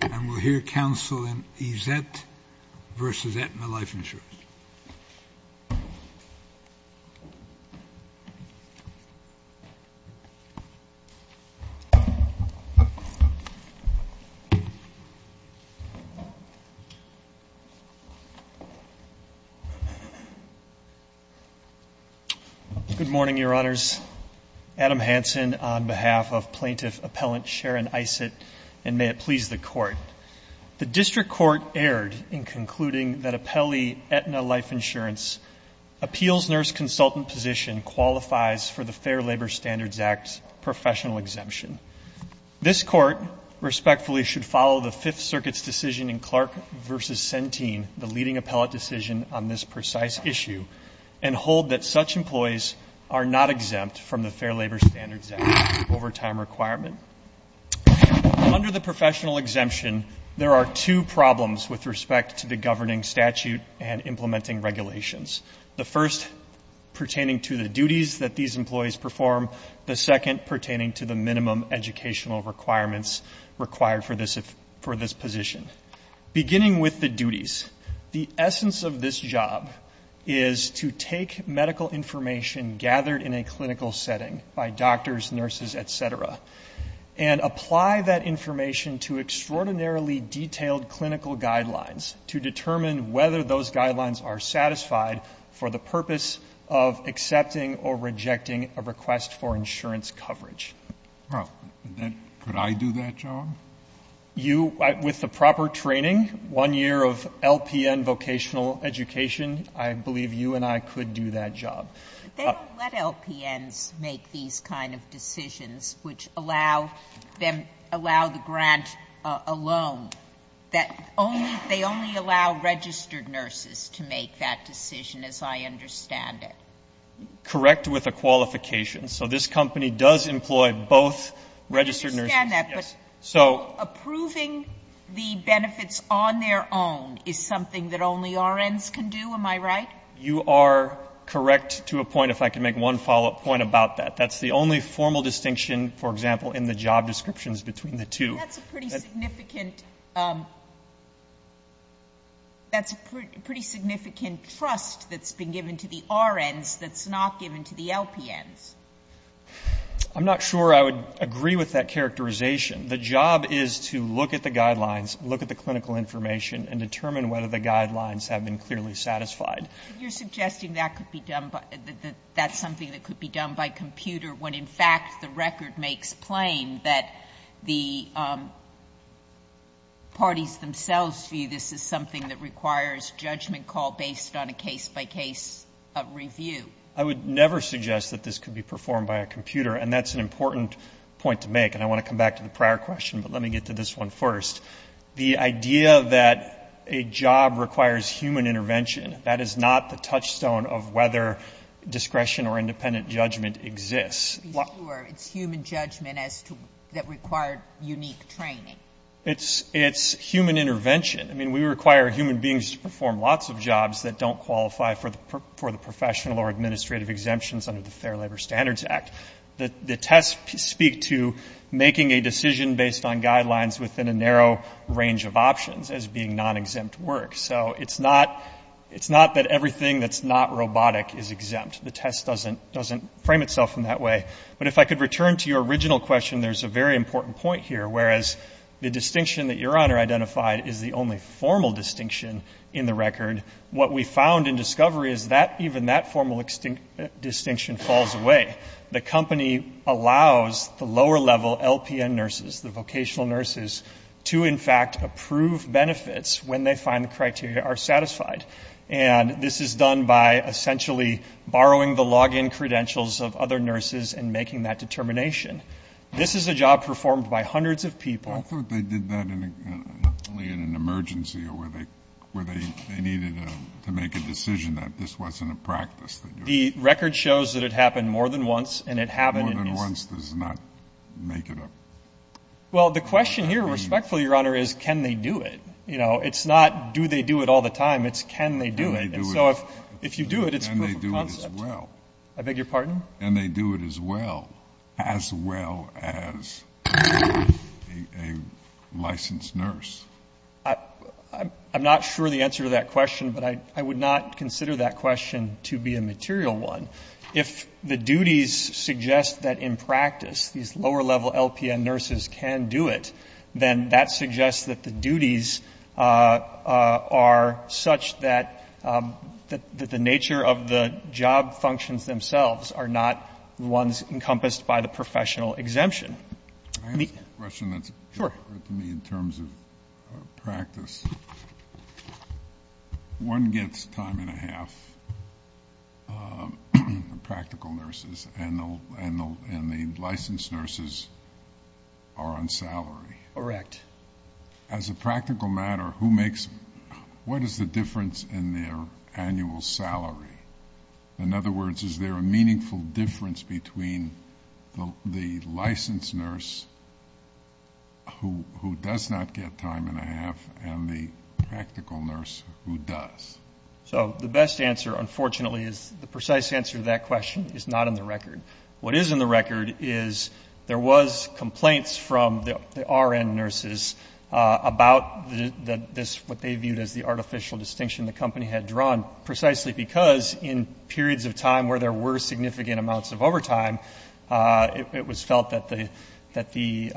And we'll hear counsel in Aesett v. Aetna Life Insurance. Good morning, Your Honors. My name is Adam Hansen on behalf of Plaintiff Appellant Sharon Aesett, and may it please the Court. The District Court erred in concluding that Appellee Aetna Life Insurance's Appeals Nurse Consultant position qualifies for the Fair Labor Standards Act professional exemption. This Court, respectfully, should follow the Fifth Circuit's decision in Clark v. Centene, the leading appellate decision on this precise issue, and hold that such employees are not exempt from the Fair Labor Standards Act overtime requirement. Under the professional exemption, there are two problems with respect to the governing statute and implementing regulations, the first pertaining to the duties that these employees perform, the second pertaining to the minimum educational requirements required for this position. Beginning with the duties, the essence of this job is to take medical information gathered in a clinical setting by doctors, nurses, et cetera, and apply that information to extraordinarily detailed clinical guidelines to determine whether those guidelines are satisfied for the purpose of accepting or rejecting a request for insurance coverage. Well, then could I do that job? You, with the proper training, one year of LPN vocational education, I believe you and I could do that job. But they don't let LPNs make these kind of decisions which allow them, allow the grant alone. That only, they only allow registered nurses to make that decision, as I understand it. Correct with a qualification. So this company does employ both registered nurses. I understand that, but approving the benefits on their own is something that only RNs can do, am I right? You are correct to a point, if I can make one follow-up point about that. That's the only formal distinction, for example, in the job descriptions between the two. That's a pretty significant, that's a pretty significant trust that's been given to the RNs that's not given to the LPNs. I'm not sure I would agree with that characterization. The job is to look at the guidelines, look at the clinical information, and determine whether the guidelines have been clearly satisfied. But you're suggesting that could be done by, that that's something that could be done by computer when, in fact, the record may explain that the parties themselves view this as something that requires judgment call based on a case-by-case review. I would never suggest that this could be performed by a computer, and that's an important point to make. And I want to come back to the prior question, but let me get to this one first. The idea that a job requires human intervention, that is not the touchstone of whether discretion or independent judgment exists. It's human judgment as to, that required unique training. It's human intervention. I mean, we require human beings to perform lots of jobs that don't qualify for the professional or administrative exemptions under the Fair Labor Standards Act. The tests speak to making a decision based on guidelines within a narrow range of options as being non-exempt work. So it's not, it's not that everything that's not robotic is exempt. The test doesn't, doesn't frame itself in that way. But if I could return to your original question, there's a very important point here. Whereas the distinction that Your Honor identified is the only formal distinction in the record, what we found in discovery is that even that formal distinction falls away. The company allows the lower level LPN nurses, the vocational nurses, to in fact approve benefits when they find the criteria are satisfied. And this is done by essentially borrowing the login credentials of other nurses and making that determination. This is a job performed by hundreds of people. I thought they did that only in an emergency or where they, where they, they needed to make a decision that this wasn't a practice. The record shows that it happened more than once and it happened in this. More than once does not make it up. Well, the question here respectfully, Your Honor, is can they do it? You know, it's not do they do it all the time? It's can they do it? And so if, if you do it, it's a proof of concept. Can they do it as well? I beg your pardon? Can they do it as well? As well as a licensed nurse? I, I'm not sure the answer to that question, but I, I would not consider that question to be a material one. If the duties suggest that in practice, these lower level LPN nurses can do it, then that suggests that the duties are such that, that, that the nature of the job functions themselves are not ones encompassed by the professional exemption. Let me. I have a question that's. Sure. In terms of practice, one gets time and a half, the practical nurses and the, and the, and the licensed nurses are on salary. Correct. As a practical matter, who makes, what is the difference in their annual salary? In other words, is there a meaningful difference between the, the licensed nurse who, who does not get time and a half and the practical nurse who does? So the best answer, unfortunately, is the precise answer to that question is not in the record. What is in the record is there was complaints from the RN nurses about this, what they viewed as the artificial distinction the company had drawn precisely because in felt that the, that the,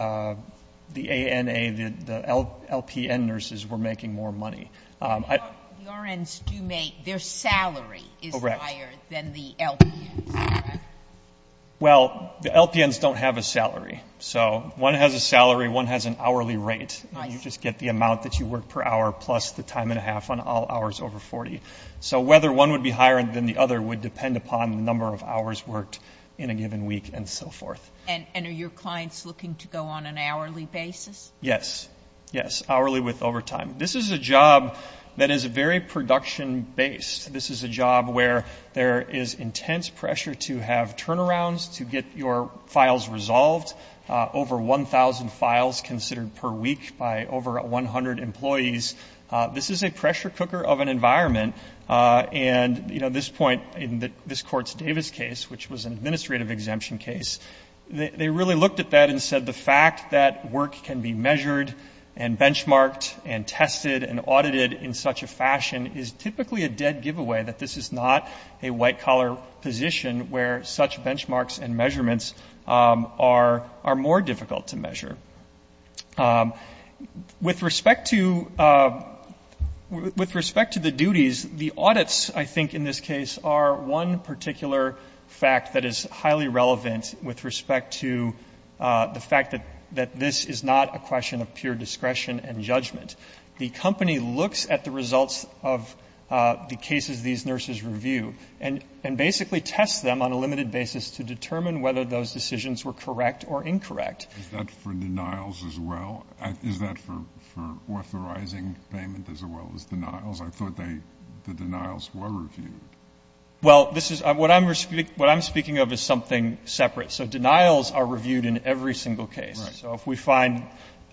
the ANA, the LPN nurses were making more money. The RNs do make, their salary is higher than the LPNs, correct? Well, the LPNs don't have a salary. So one has a salary, one has an hourly rate. You just get the amount that you work per hour plus the time and a half on all hours over 40. So whether one would be higher than the other would depend upon the number of hours worked in a given week and so forth. And are your clients looking to go on an hourly basis? Yes, yes. Hourly with overtime. This is a job that is very production based. This is a job where there is intense pressure to have turnarounds to get your files resolved. Over 1,000 files considered per week by over 100 employees. This is a pressure cooker of an environment. And, you know, this point in the, this court's Davis case, which was an administrative exemption case, they really looked at that and said the fact that work can be measured and benchmarked and tested and audited in such a fashion is typically a dead giveaway that this is not a white collar position where such benchmarks and measurements are, are more difficult to measure. With respect to, with respect to the duties, the audits, I think in this case, are one particular fact that is highly relevant with respect to the fact that, that this is not a question of pure discretion and judgment. The company looks at the results of the cases these nurses review and, and basically test them on a limited basis to determine whether those decisions were correct or incorrect. Is that for denials as well? Is that for, for authorizing payment as well as denials? I thought they, the denials were reviewed. Well, this is, what I'm, what I'm speaking of is something separate. So denials are reviewed in every single case. So if we find,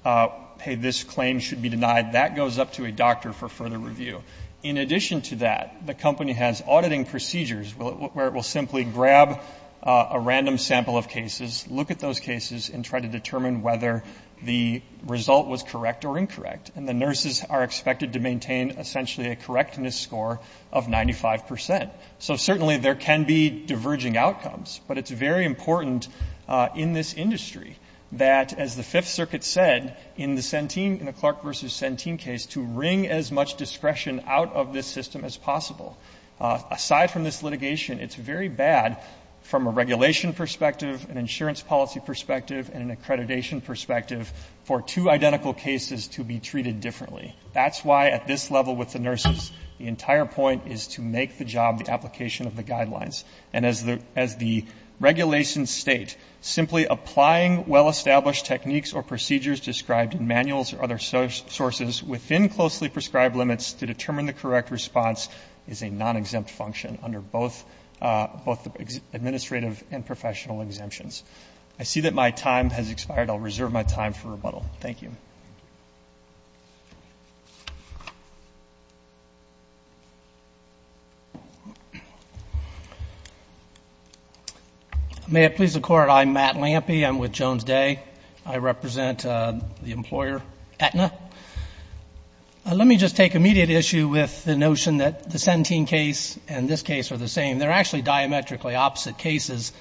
hey, this claim should be denied, that goes up to a doctor for further review. In addition to that, the company has auditing procedures where it will simply grab a random sample of cases, look at those cases and try to determine whether the result was correct or incorrect. And the nurses are expected to maintain essentially a correctness score of 95%. So certainly there can be diverging outcomes. But it's very important in this industry that, as the Fifth Circuit said in the Centene, in the Clark v. Centene case, to wring as much discretion out of this system as possible. Aside from this litigation, it's very bad from a regulation perspective, an insurance policy perspective, and an accreditation perspective for two identical cases to be treated differently. That's why at this level with the nurses, the entire point is to make the job the application of the guidelines. And as the regulations state, simply applying well-established techniques or procedures described in manuals or other sources within closely prescribed limits to determine the correct response is a non-exempt function under both administrative and professional exemptions. I see that my time has expired. I'll reserve my time for rebuttal. Thank you. MR. LAMPEY. May it please the Court, I'm Matt Lampey. I'm with Jones Day. I represent the employer Aetna. Let me just take immediate issue with the notion that the Centene case and this case are the same. They're actually diametrically opposite cases.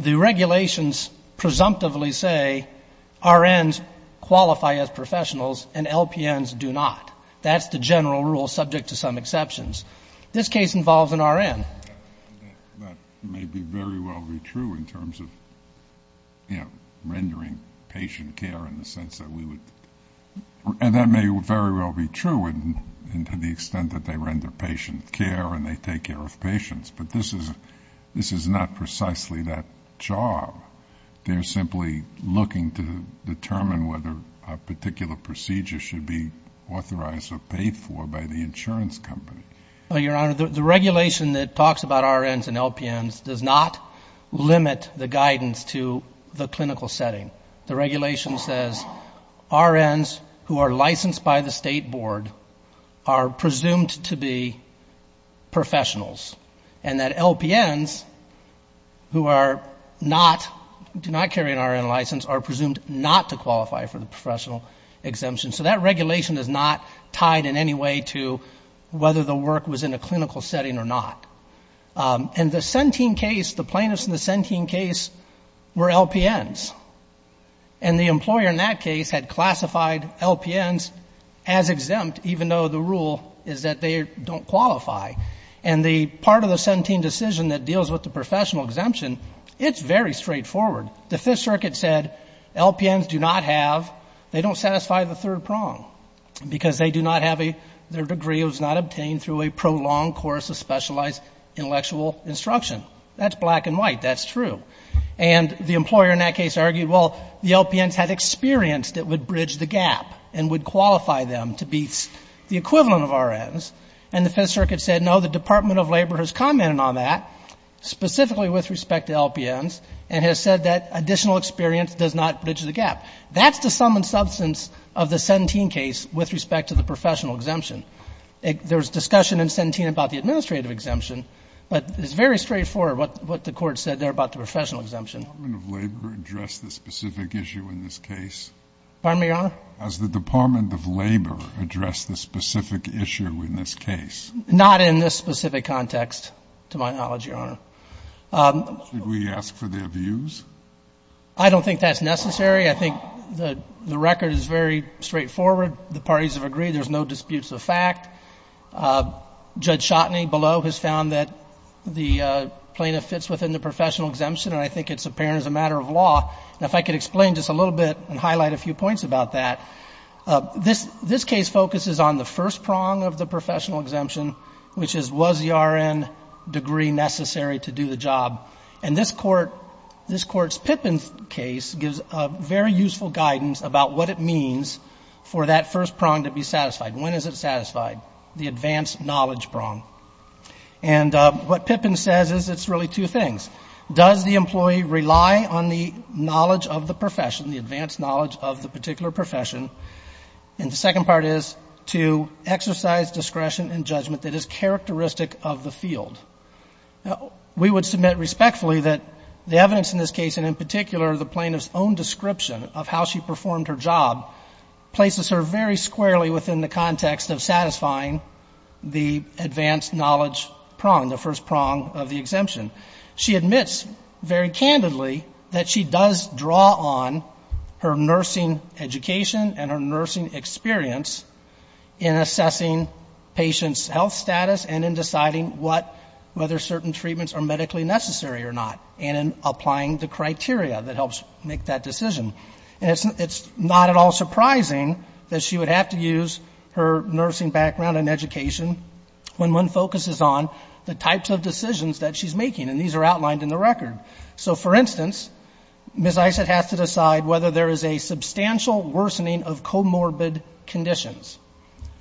The regulations presumptively say RNs qualify as professionals, and LPNs do not. That's the general rule, subject to some exceptions. This case involves an RN. MR. NEUMANN. That may very well be true in terms of, you know, rendering patient care in the sense that we would. And that may very well be true to the extent that they render patient care and they take care of patients. But this is not precisely that job. They're simply looking to determine whether a particular procedure should be authorized or paid for by the insurance company. MR. LAMPEY. Your Honor, the regulation that talks about RNs and LPNs does not limit the guidance to the clinical setting. The regulation says RNs who are licensed by the State Board are presumed to be professionals. And that LPNs who are not, do not carry an RN license are presumed not to qualify for the professional exemption. So that regulation is not tied in any way to whether the work was in a clinical setting or not. And the Sentine case, the plaintiffs in the Sentine case were LPNs. And the employer in that case had classified LPNs as exempt, even though the rule is that they don't qualify. And the part of the Sentine decision that deals with the professional exemption, it's very straightforward. The Fifth Circuit said LPNs do not have, they don't satisfy the third prong because they do not have a, their degree was not obtained through a prolonged course of specialized intellectual instruction. That's black and white. That's true. And the employer in that case argued, well, the LPNs had experience that would bridge the gap and would qualify them to be the equivalent of RNs. And the Fifth Circuit said, no, the Department of Labor has commented on that, specifically with respect to LPNs, and has said that additional experience does not bridge the gap. That's the sum and substance of the Sentine case with respect to the professional exemption. There's discussion in Sentine about the administrative exemption, but it's very straightforward what the Court said there about the professional exemption. Scalia. Does the Department of Labor address the specific issue in this case? Feigin. Pardon me, Your Honor? Has the Department of Labor addressed the specific issue in this case? Feigin. Not in this specific context, to my knowledge, Your Honor. Scalia. Should we ask for their views? Feigin. I don't think that's necessary. I think the record is very straightforward. The parties have agreed. There's no disputes of fact. Judge Chotny below has found that the plaintiff fits within the professional exemption, and I think it's apparent as a matter of law. Now, if I could explain just a little bit and highlight a few points about that, this case focuses on the first prong of the professional exemption, which is, was the RN degree necessary to do the job? And this Court's Pippin case gives very useful guidance about what it means for that first prong to be satisfied. When is it satisfied? The advanced knowledge prong. And what Pippin says is it's really two things. Does the employee rely on the knowledge of the profession, the advanced knowledge of the particular profession? And the second part is to exercise discretion and judgment that is characteristic of the field. We would submit respectfully that the evidence in this case, and in particular the plaintiff's own description of how she performed her job, places her very squarely within the context of satisfying the advanced knowledge prong, the first prong of the exemption. She admits very candidly that she does draw on her nursing education and her nursing experience in assessing patients' health status and in deciding what, whether certain treatments are medically necessary or not, and in applying the criteria that helps make that decision. And it's not at all surprising that she would have to use her nursing background and education when one focuses on the types of decisions that she's making, and these are outlined in the record. So, for instance, Ms. Isot has to decide whether there is a substantial worsening of comorbid conditions.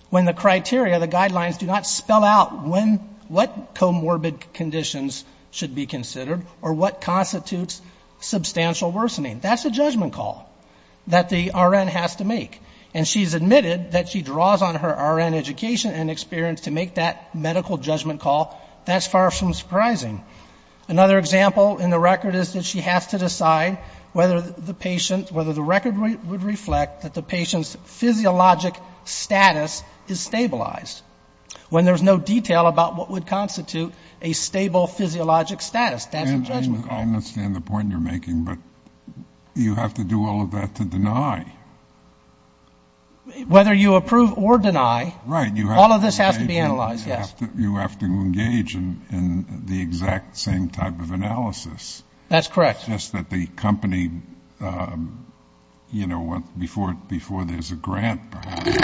When the criteria, the guidelines do not spell out when, what comorbid conditions should be considered or what constitutes substantial worsening. That's a judgment call that the RN has to make. And she's admitted that she draws on her RN education and experience to make that medical judgment call. That's far from surprising. Another example in the record is that she has to decide whether the patient, whether the record would reflect that the patient's physiologic status is stabilized. When there's no detail about what would constitute a stable physiologic status, that's a judgment call. I understand the point you're making, but you have to do all of that to deny. Whether you approve or deny, all of this has to be analyzed, yes. You have to engage in the exact same type of analysis. That's correct. Just that the company, you know, before there's a grant, perhaps,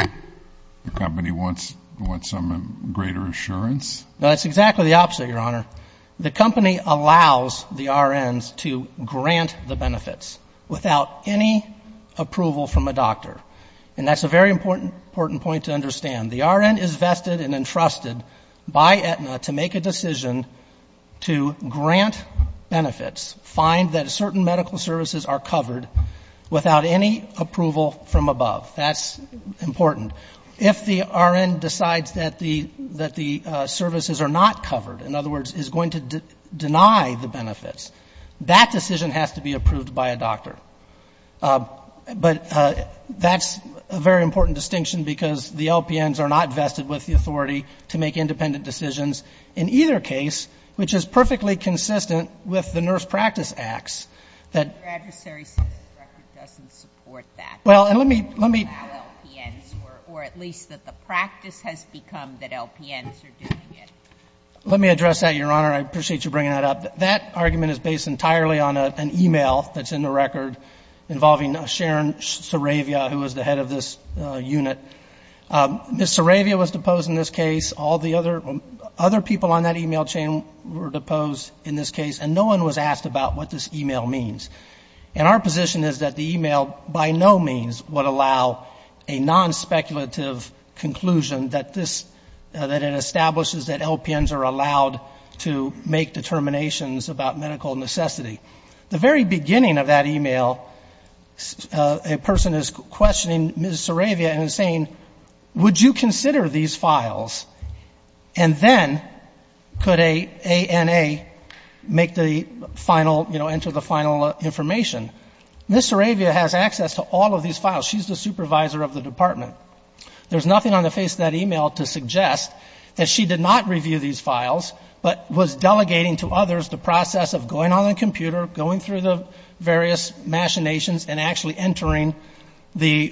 the company wants some greater assurance. No, that's exactly the opposite, Your Honor. The company allows the RNs to grant the benefits without any approval from a doctor. And that's a very important point to understand. The RN is vested and entrusted by Aetna to make a decision to grant benefits, find that certain medical services are covered without any approval from above. That's important. If the RN decides that the services are not covered, in other words, is going to deny the benefits, that decision has to be approved by a doctor. But that's a very important distinction because the LPNs are not vested with the authority to make independent decisions. In either case, which is perfectly consistent with the nurse practice acts, that... Your adversary says the record doesn't support that. Well, and let me... Or at least that the practice has become that LPNs are doing it. Let me address that, Your Honor. I appreciate you bringing that up. That argument is based entirely on an email that's in the record involving Sharon Saravia, who was the head of this unit. Ms. Saravia was deposed in this case. All the other people on that email chain were deposed in this case. And no one was asked about what this email means. And our position is that the email by no means would allow a non-speculative conclusion that this... That it establishes that LPNs are allowed to make determinations about medical necessity. The very beginning of that email, a person is questioning Ms. Saravia and saying, would you consider these files? And then could a ANA make the final, you know, enter the final information? Ms. Saravia has access to all of these files. She's the supervisor of the department. There's nothing on the face of that email to suggest that she did not review these files, but was delegating to others the process of going on the computer, going through the various machinations, and actually entering the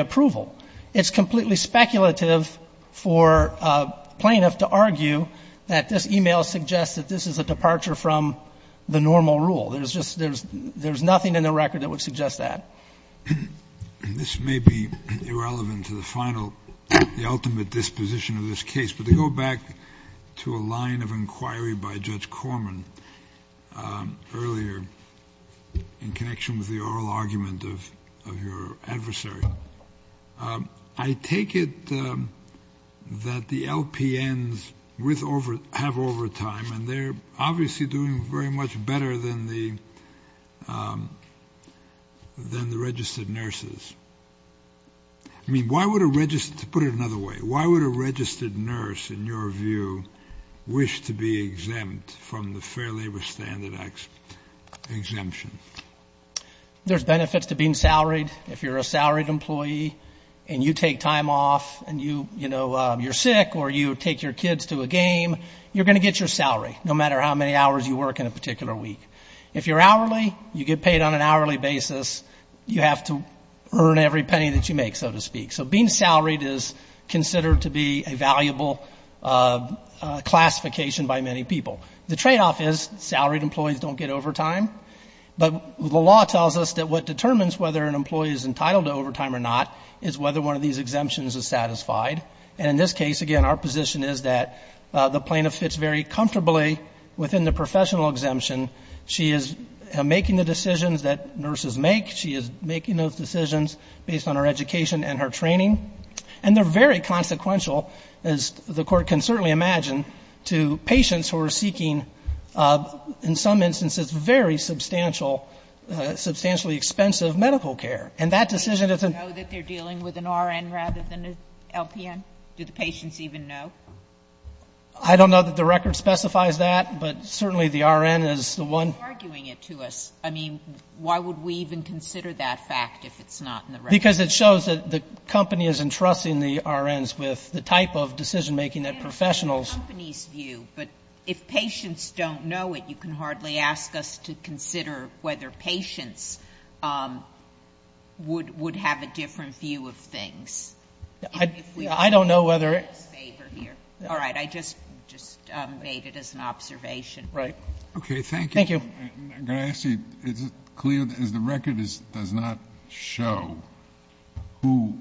approval. It's completely speculative for a plaintiff to argue that this email suggests that this is a departure from the normal rule. There's just, there's nothing in the record that would suggest that. This may be irrelevant to the final, the ultimate disposition of this case, but to go back to a line of inquiry by Judge Corman earlier, in connection with the oral argument of your adversary, I take it that the LPNs have overtime and they're obviously doing very much better than the registered nurses. I mean, why would a registered, to put it another way, why would a registered nurse, in your view, wish to be exempt from the Fair Labor Standards Act exemption? There's benefits to being salaried. If you're a salaried employee and you take time off and you, you know, you're sick or you take your kids to a game, you're going to get your salary, no matter how many hours you work in a particular week. If you're hourly, you get paid on an hourly basis, you have to earn every penny that you make, so to speak. So being salaried is considered to be a valuable classification by many people. The tradeoff is salaried employees don't get overtime, but the law tells us that what determines whether an employee is entitled to overtime or not is whether one of these exemptions is satisfied. And in this case, again, our position is that the plaintiff fits very comfortably within the professional exemption. She is making the decisions that nurses make, she is making those decisions based on her education and her training, and they're very consequential, as the Court can certainly imagine, to patients who are seeking, in some instances, very substantial, substantially expensive medical care. And that decision is a... Do you know that they're dealing with an RN rather than an LPN? Do the patients even know? I don't know that the record specifies that, but certainly the RN is the one... Why are you arguing it to us? I mean, why would we even consider that fact if it's not in the record? Because it shows that the company is entrusting the RNs with the type of decision making that professionals... It's the company's view, but if patients don't know it, you can hardly ask us to consider whether patients would have a different view of things. I don't know whether... All right. I just made it as an observation. Right. Okay. Thank you. Thank you. Can I ask you, is it clear that the record does not show who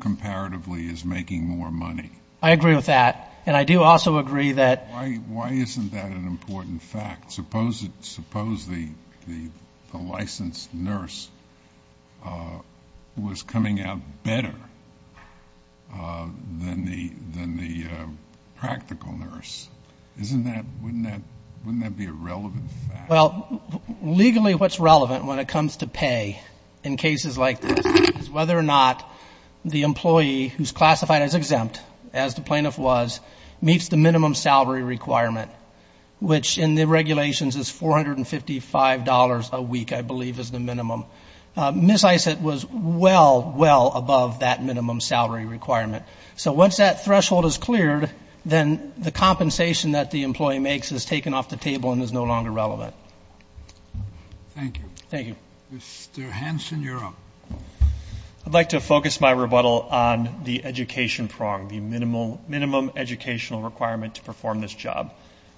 comparatively is making more money? I agree with that. And I do also agree that... Why isn't that an important fact? Suppose the licensed nurse was coming out better than the practical nurse. Wouldn't that be a relevant fact? Well, legally what's relevant when it comes to pay in cases like this is whether or not the employee who's classified as exempt, as the plaintiff was, meets the minimum salary requirement, which in the regulations is $455 a week, I believe is the minimum. Ms. Isett was well, well above that minimum salary requirement. So once that threshold is cleared, then the compensation that the employee makes is taken off the table and is no longer relevant. Thank you. Thank you. Mr. Hanson, you're up. I'd like to focus my rebuttal on the education prong, the minimum educational requirement to perform this job.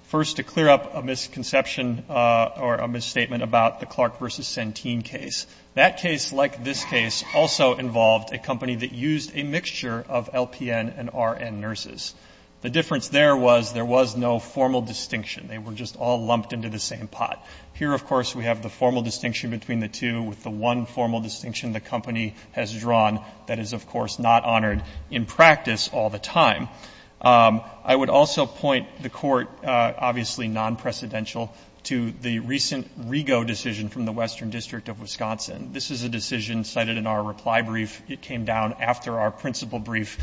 First, to clear up a misconception or a misstatement about the Clark versus Centene case. That case, like this case, also involved a company that used a mixture of LPN and RN nurses. The difference there was there was no formal distinction. They were just all lumped into the same pot. Here, of course, we have the formal distinction between the two with the one formal distinction the company has drawn that is, of course, not honored in practice all the time. I would also point the Court, obviously non-precedential, to the recent Rigo decision from the Western District of Wisconsin. This is a decision cited in our reply brief. It came down after our principal brief.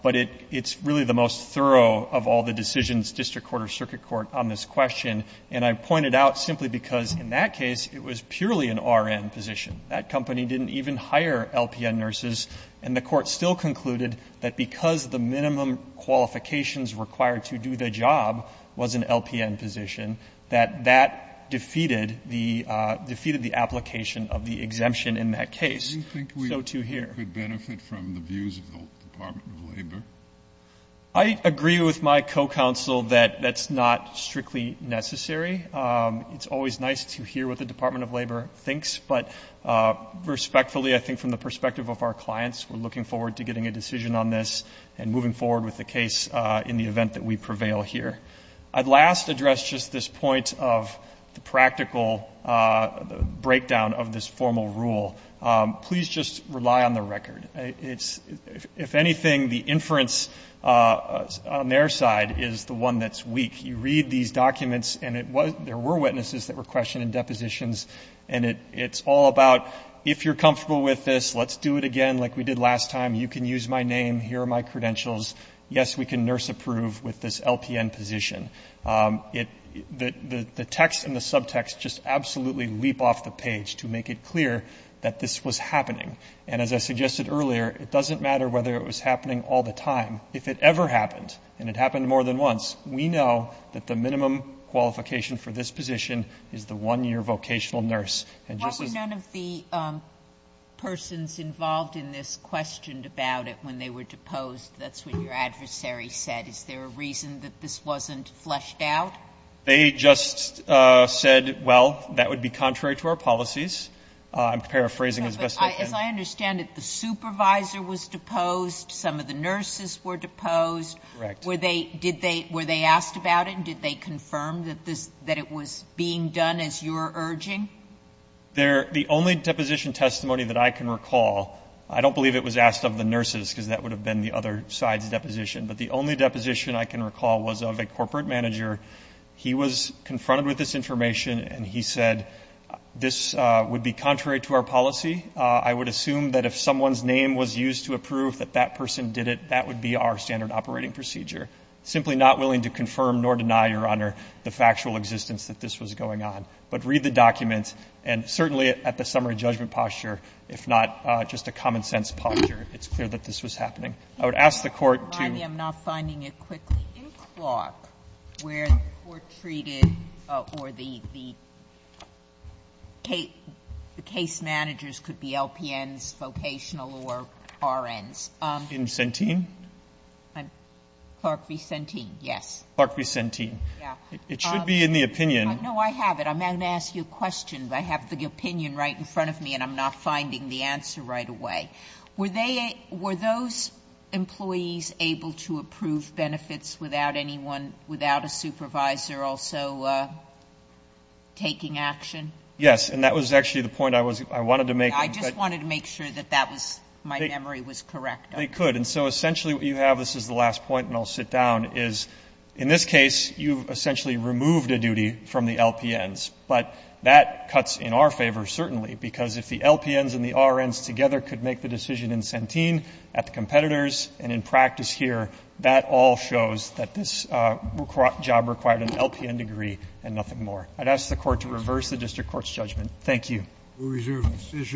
But it's really the most thorough of all the decisions, district court or circuit court, on this question. And I point it out simply because in that case, it was purely an RN position. That company didn't even hire LPN nurses. And the Court still concluded that because the minimum qualifications required to do the job was an LPN position, that that defeated the application of the exemption in that case. So to here. Kennedy, do you think we could benefit from the views of the Department of Labor? I agree with my co-counsel that that's not strictly necessary. It's always nice to hear what the Department of Labor thinks. But respectfully, I think from the perspective of our clients, we're looking forward to getting a decision on this and moving forward with the case in the event that we prevail here. I'd last address just this point of the practical breakdown of this formal rule. Please just rely on the record. If anything, the inference on their side is the one that's weak. You read these documents, and there were witnesses that were questioned in depositions, and it's all about, if you're comfortable with this, let's do it again like we did last time. You can use my name. Here are my credentials. Yes, we can nurse approve with this LPN position. The text and the subtext just absolutely leap off the page to make it clear that this was happening. And as I suggested earlier, it doesn't matter whether it was happening all the time. If it ever happened, and it happened more than once, we know that the minimum qualification for this position is the one year vocational nurse. And just as none of the persons involved in this questioned about it when they were deposed, that's what your adversary said. Is there a reason that this wasn't fleshed out? They just said, well, that would be contrary to our policies. I'm paraphrasing as best I can. As I understand it, the supervisor was deposed. Some of the nurses were deposed. Correct. Were they asked about it? And did they confirm that it was being done as you're urging? The only deposition testimony that I can recall, I don't believe it was asked of the nurses because that would have been the other side's deposition, but the only deposition I can recall was of a corporate manager. He was confronted with this information, and he said, this would be contrary to our policy. I would assume that if someone's name was used to approve that that person did it, that would be our standard operating procedure. Simply not willing to confirm nor deny, Your Honor, the factual existence that this was going on. But read the documents, and certainly at the summary judgment posture, if not just a common-sense posture, it's clear that this was happening. I would ask the Court to do that. Sotomayor, I'm not finding it quickly. In Clark, where the Court treated or the case managers could be LPNs, vocational or RNs. In Centene? I'm Clark v. Centene, yes. Clark v. Centene. Yeah. It should be in the opinion. No, I have it. I'm going to ask you a question, but I have the opinion right in front of me, and I'm not finding the answer right away. Were those employees able to approve benefits without anyone, without a supervisor also taking action? Yes, and that was actually the point I wanted to make. I just wanted to make sure that that was, my memory was correct. They could. And so essentially what you have, this is the last point and I'll sit down, is in this case you've essentially removed a duty from the LPNs, but that cuts in our favor certainly, because if the LPNs and the RNs together could make the decision in Centene at the competitors and in practice here, that all shows that this job required an LPN degree and nothing more. I'd ask the Court to reverse the district court's judgment. Thank you. We reserve the decision.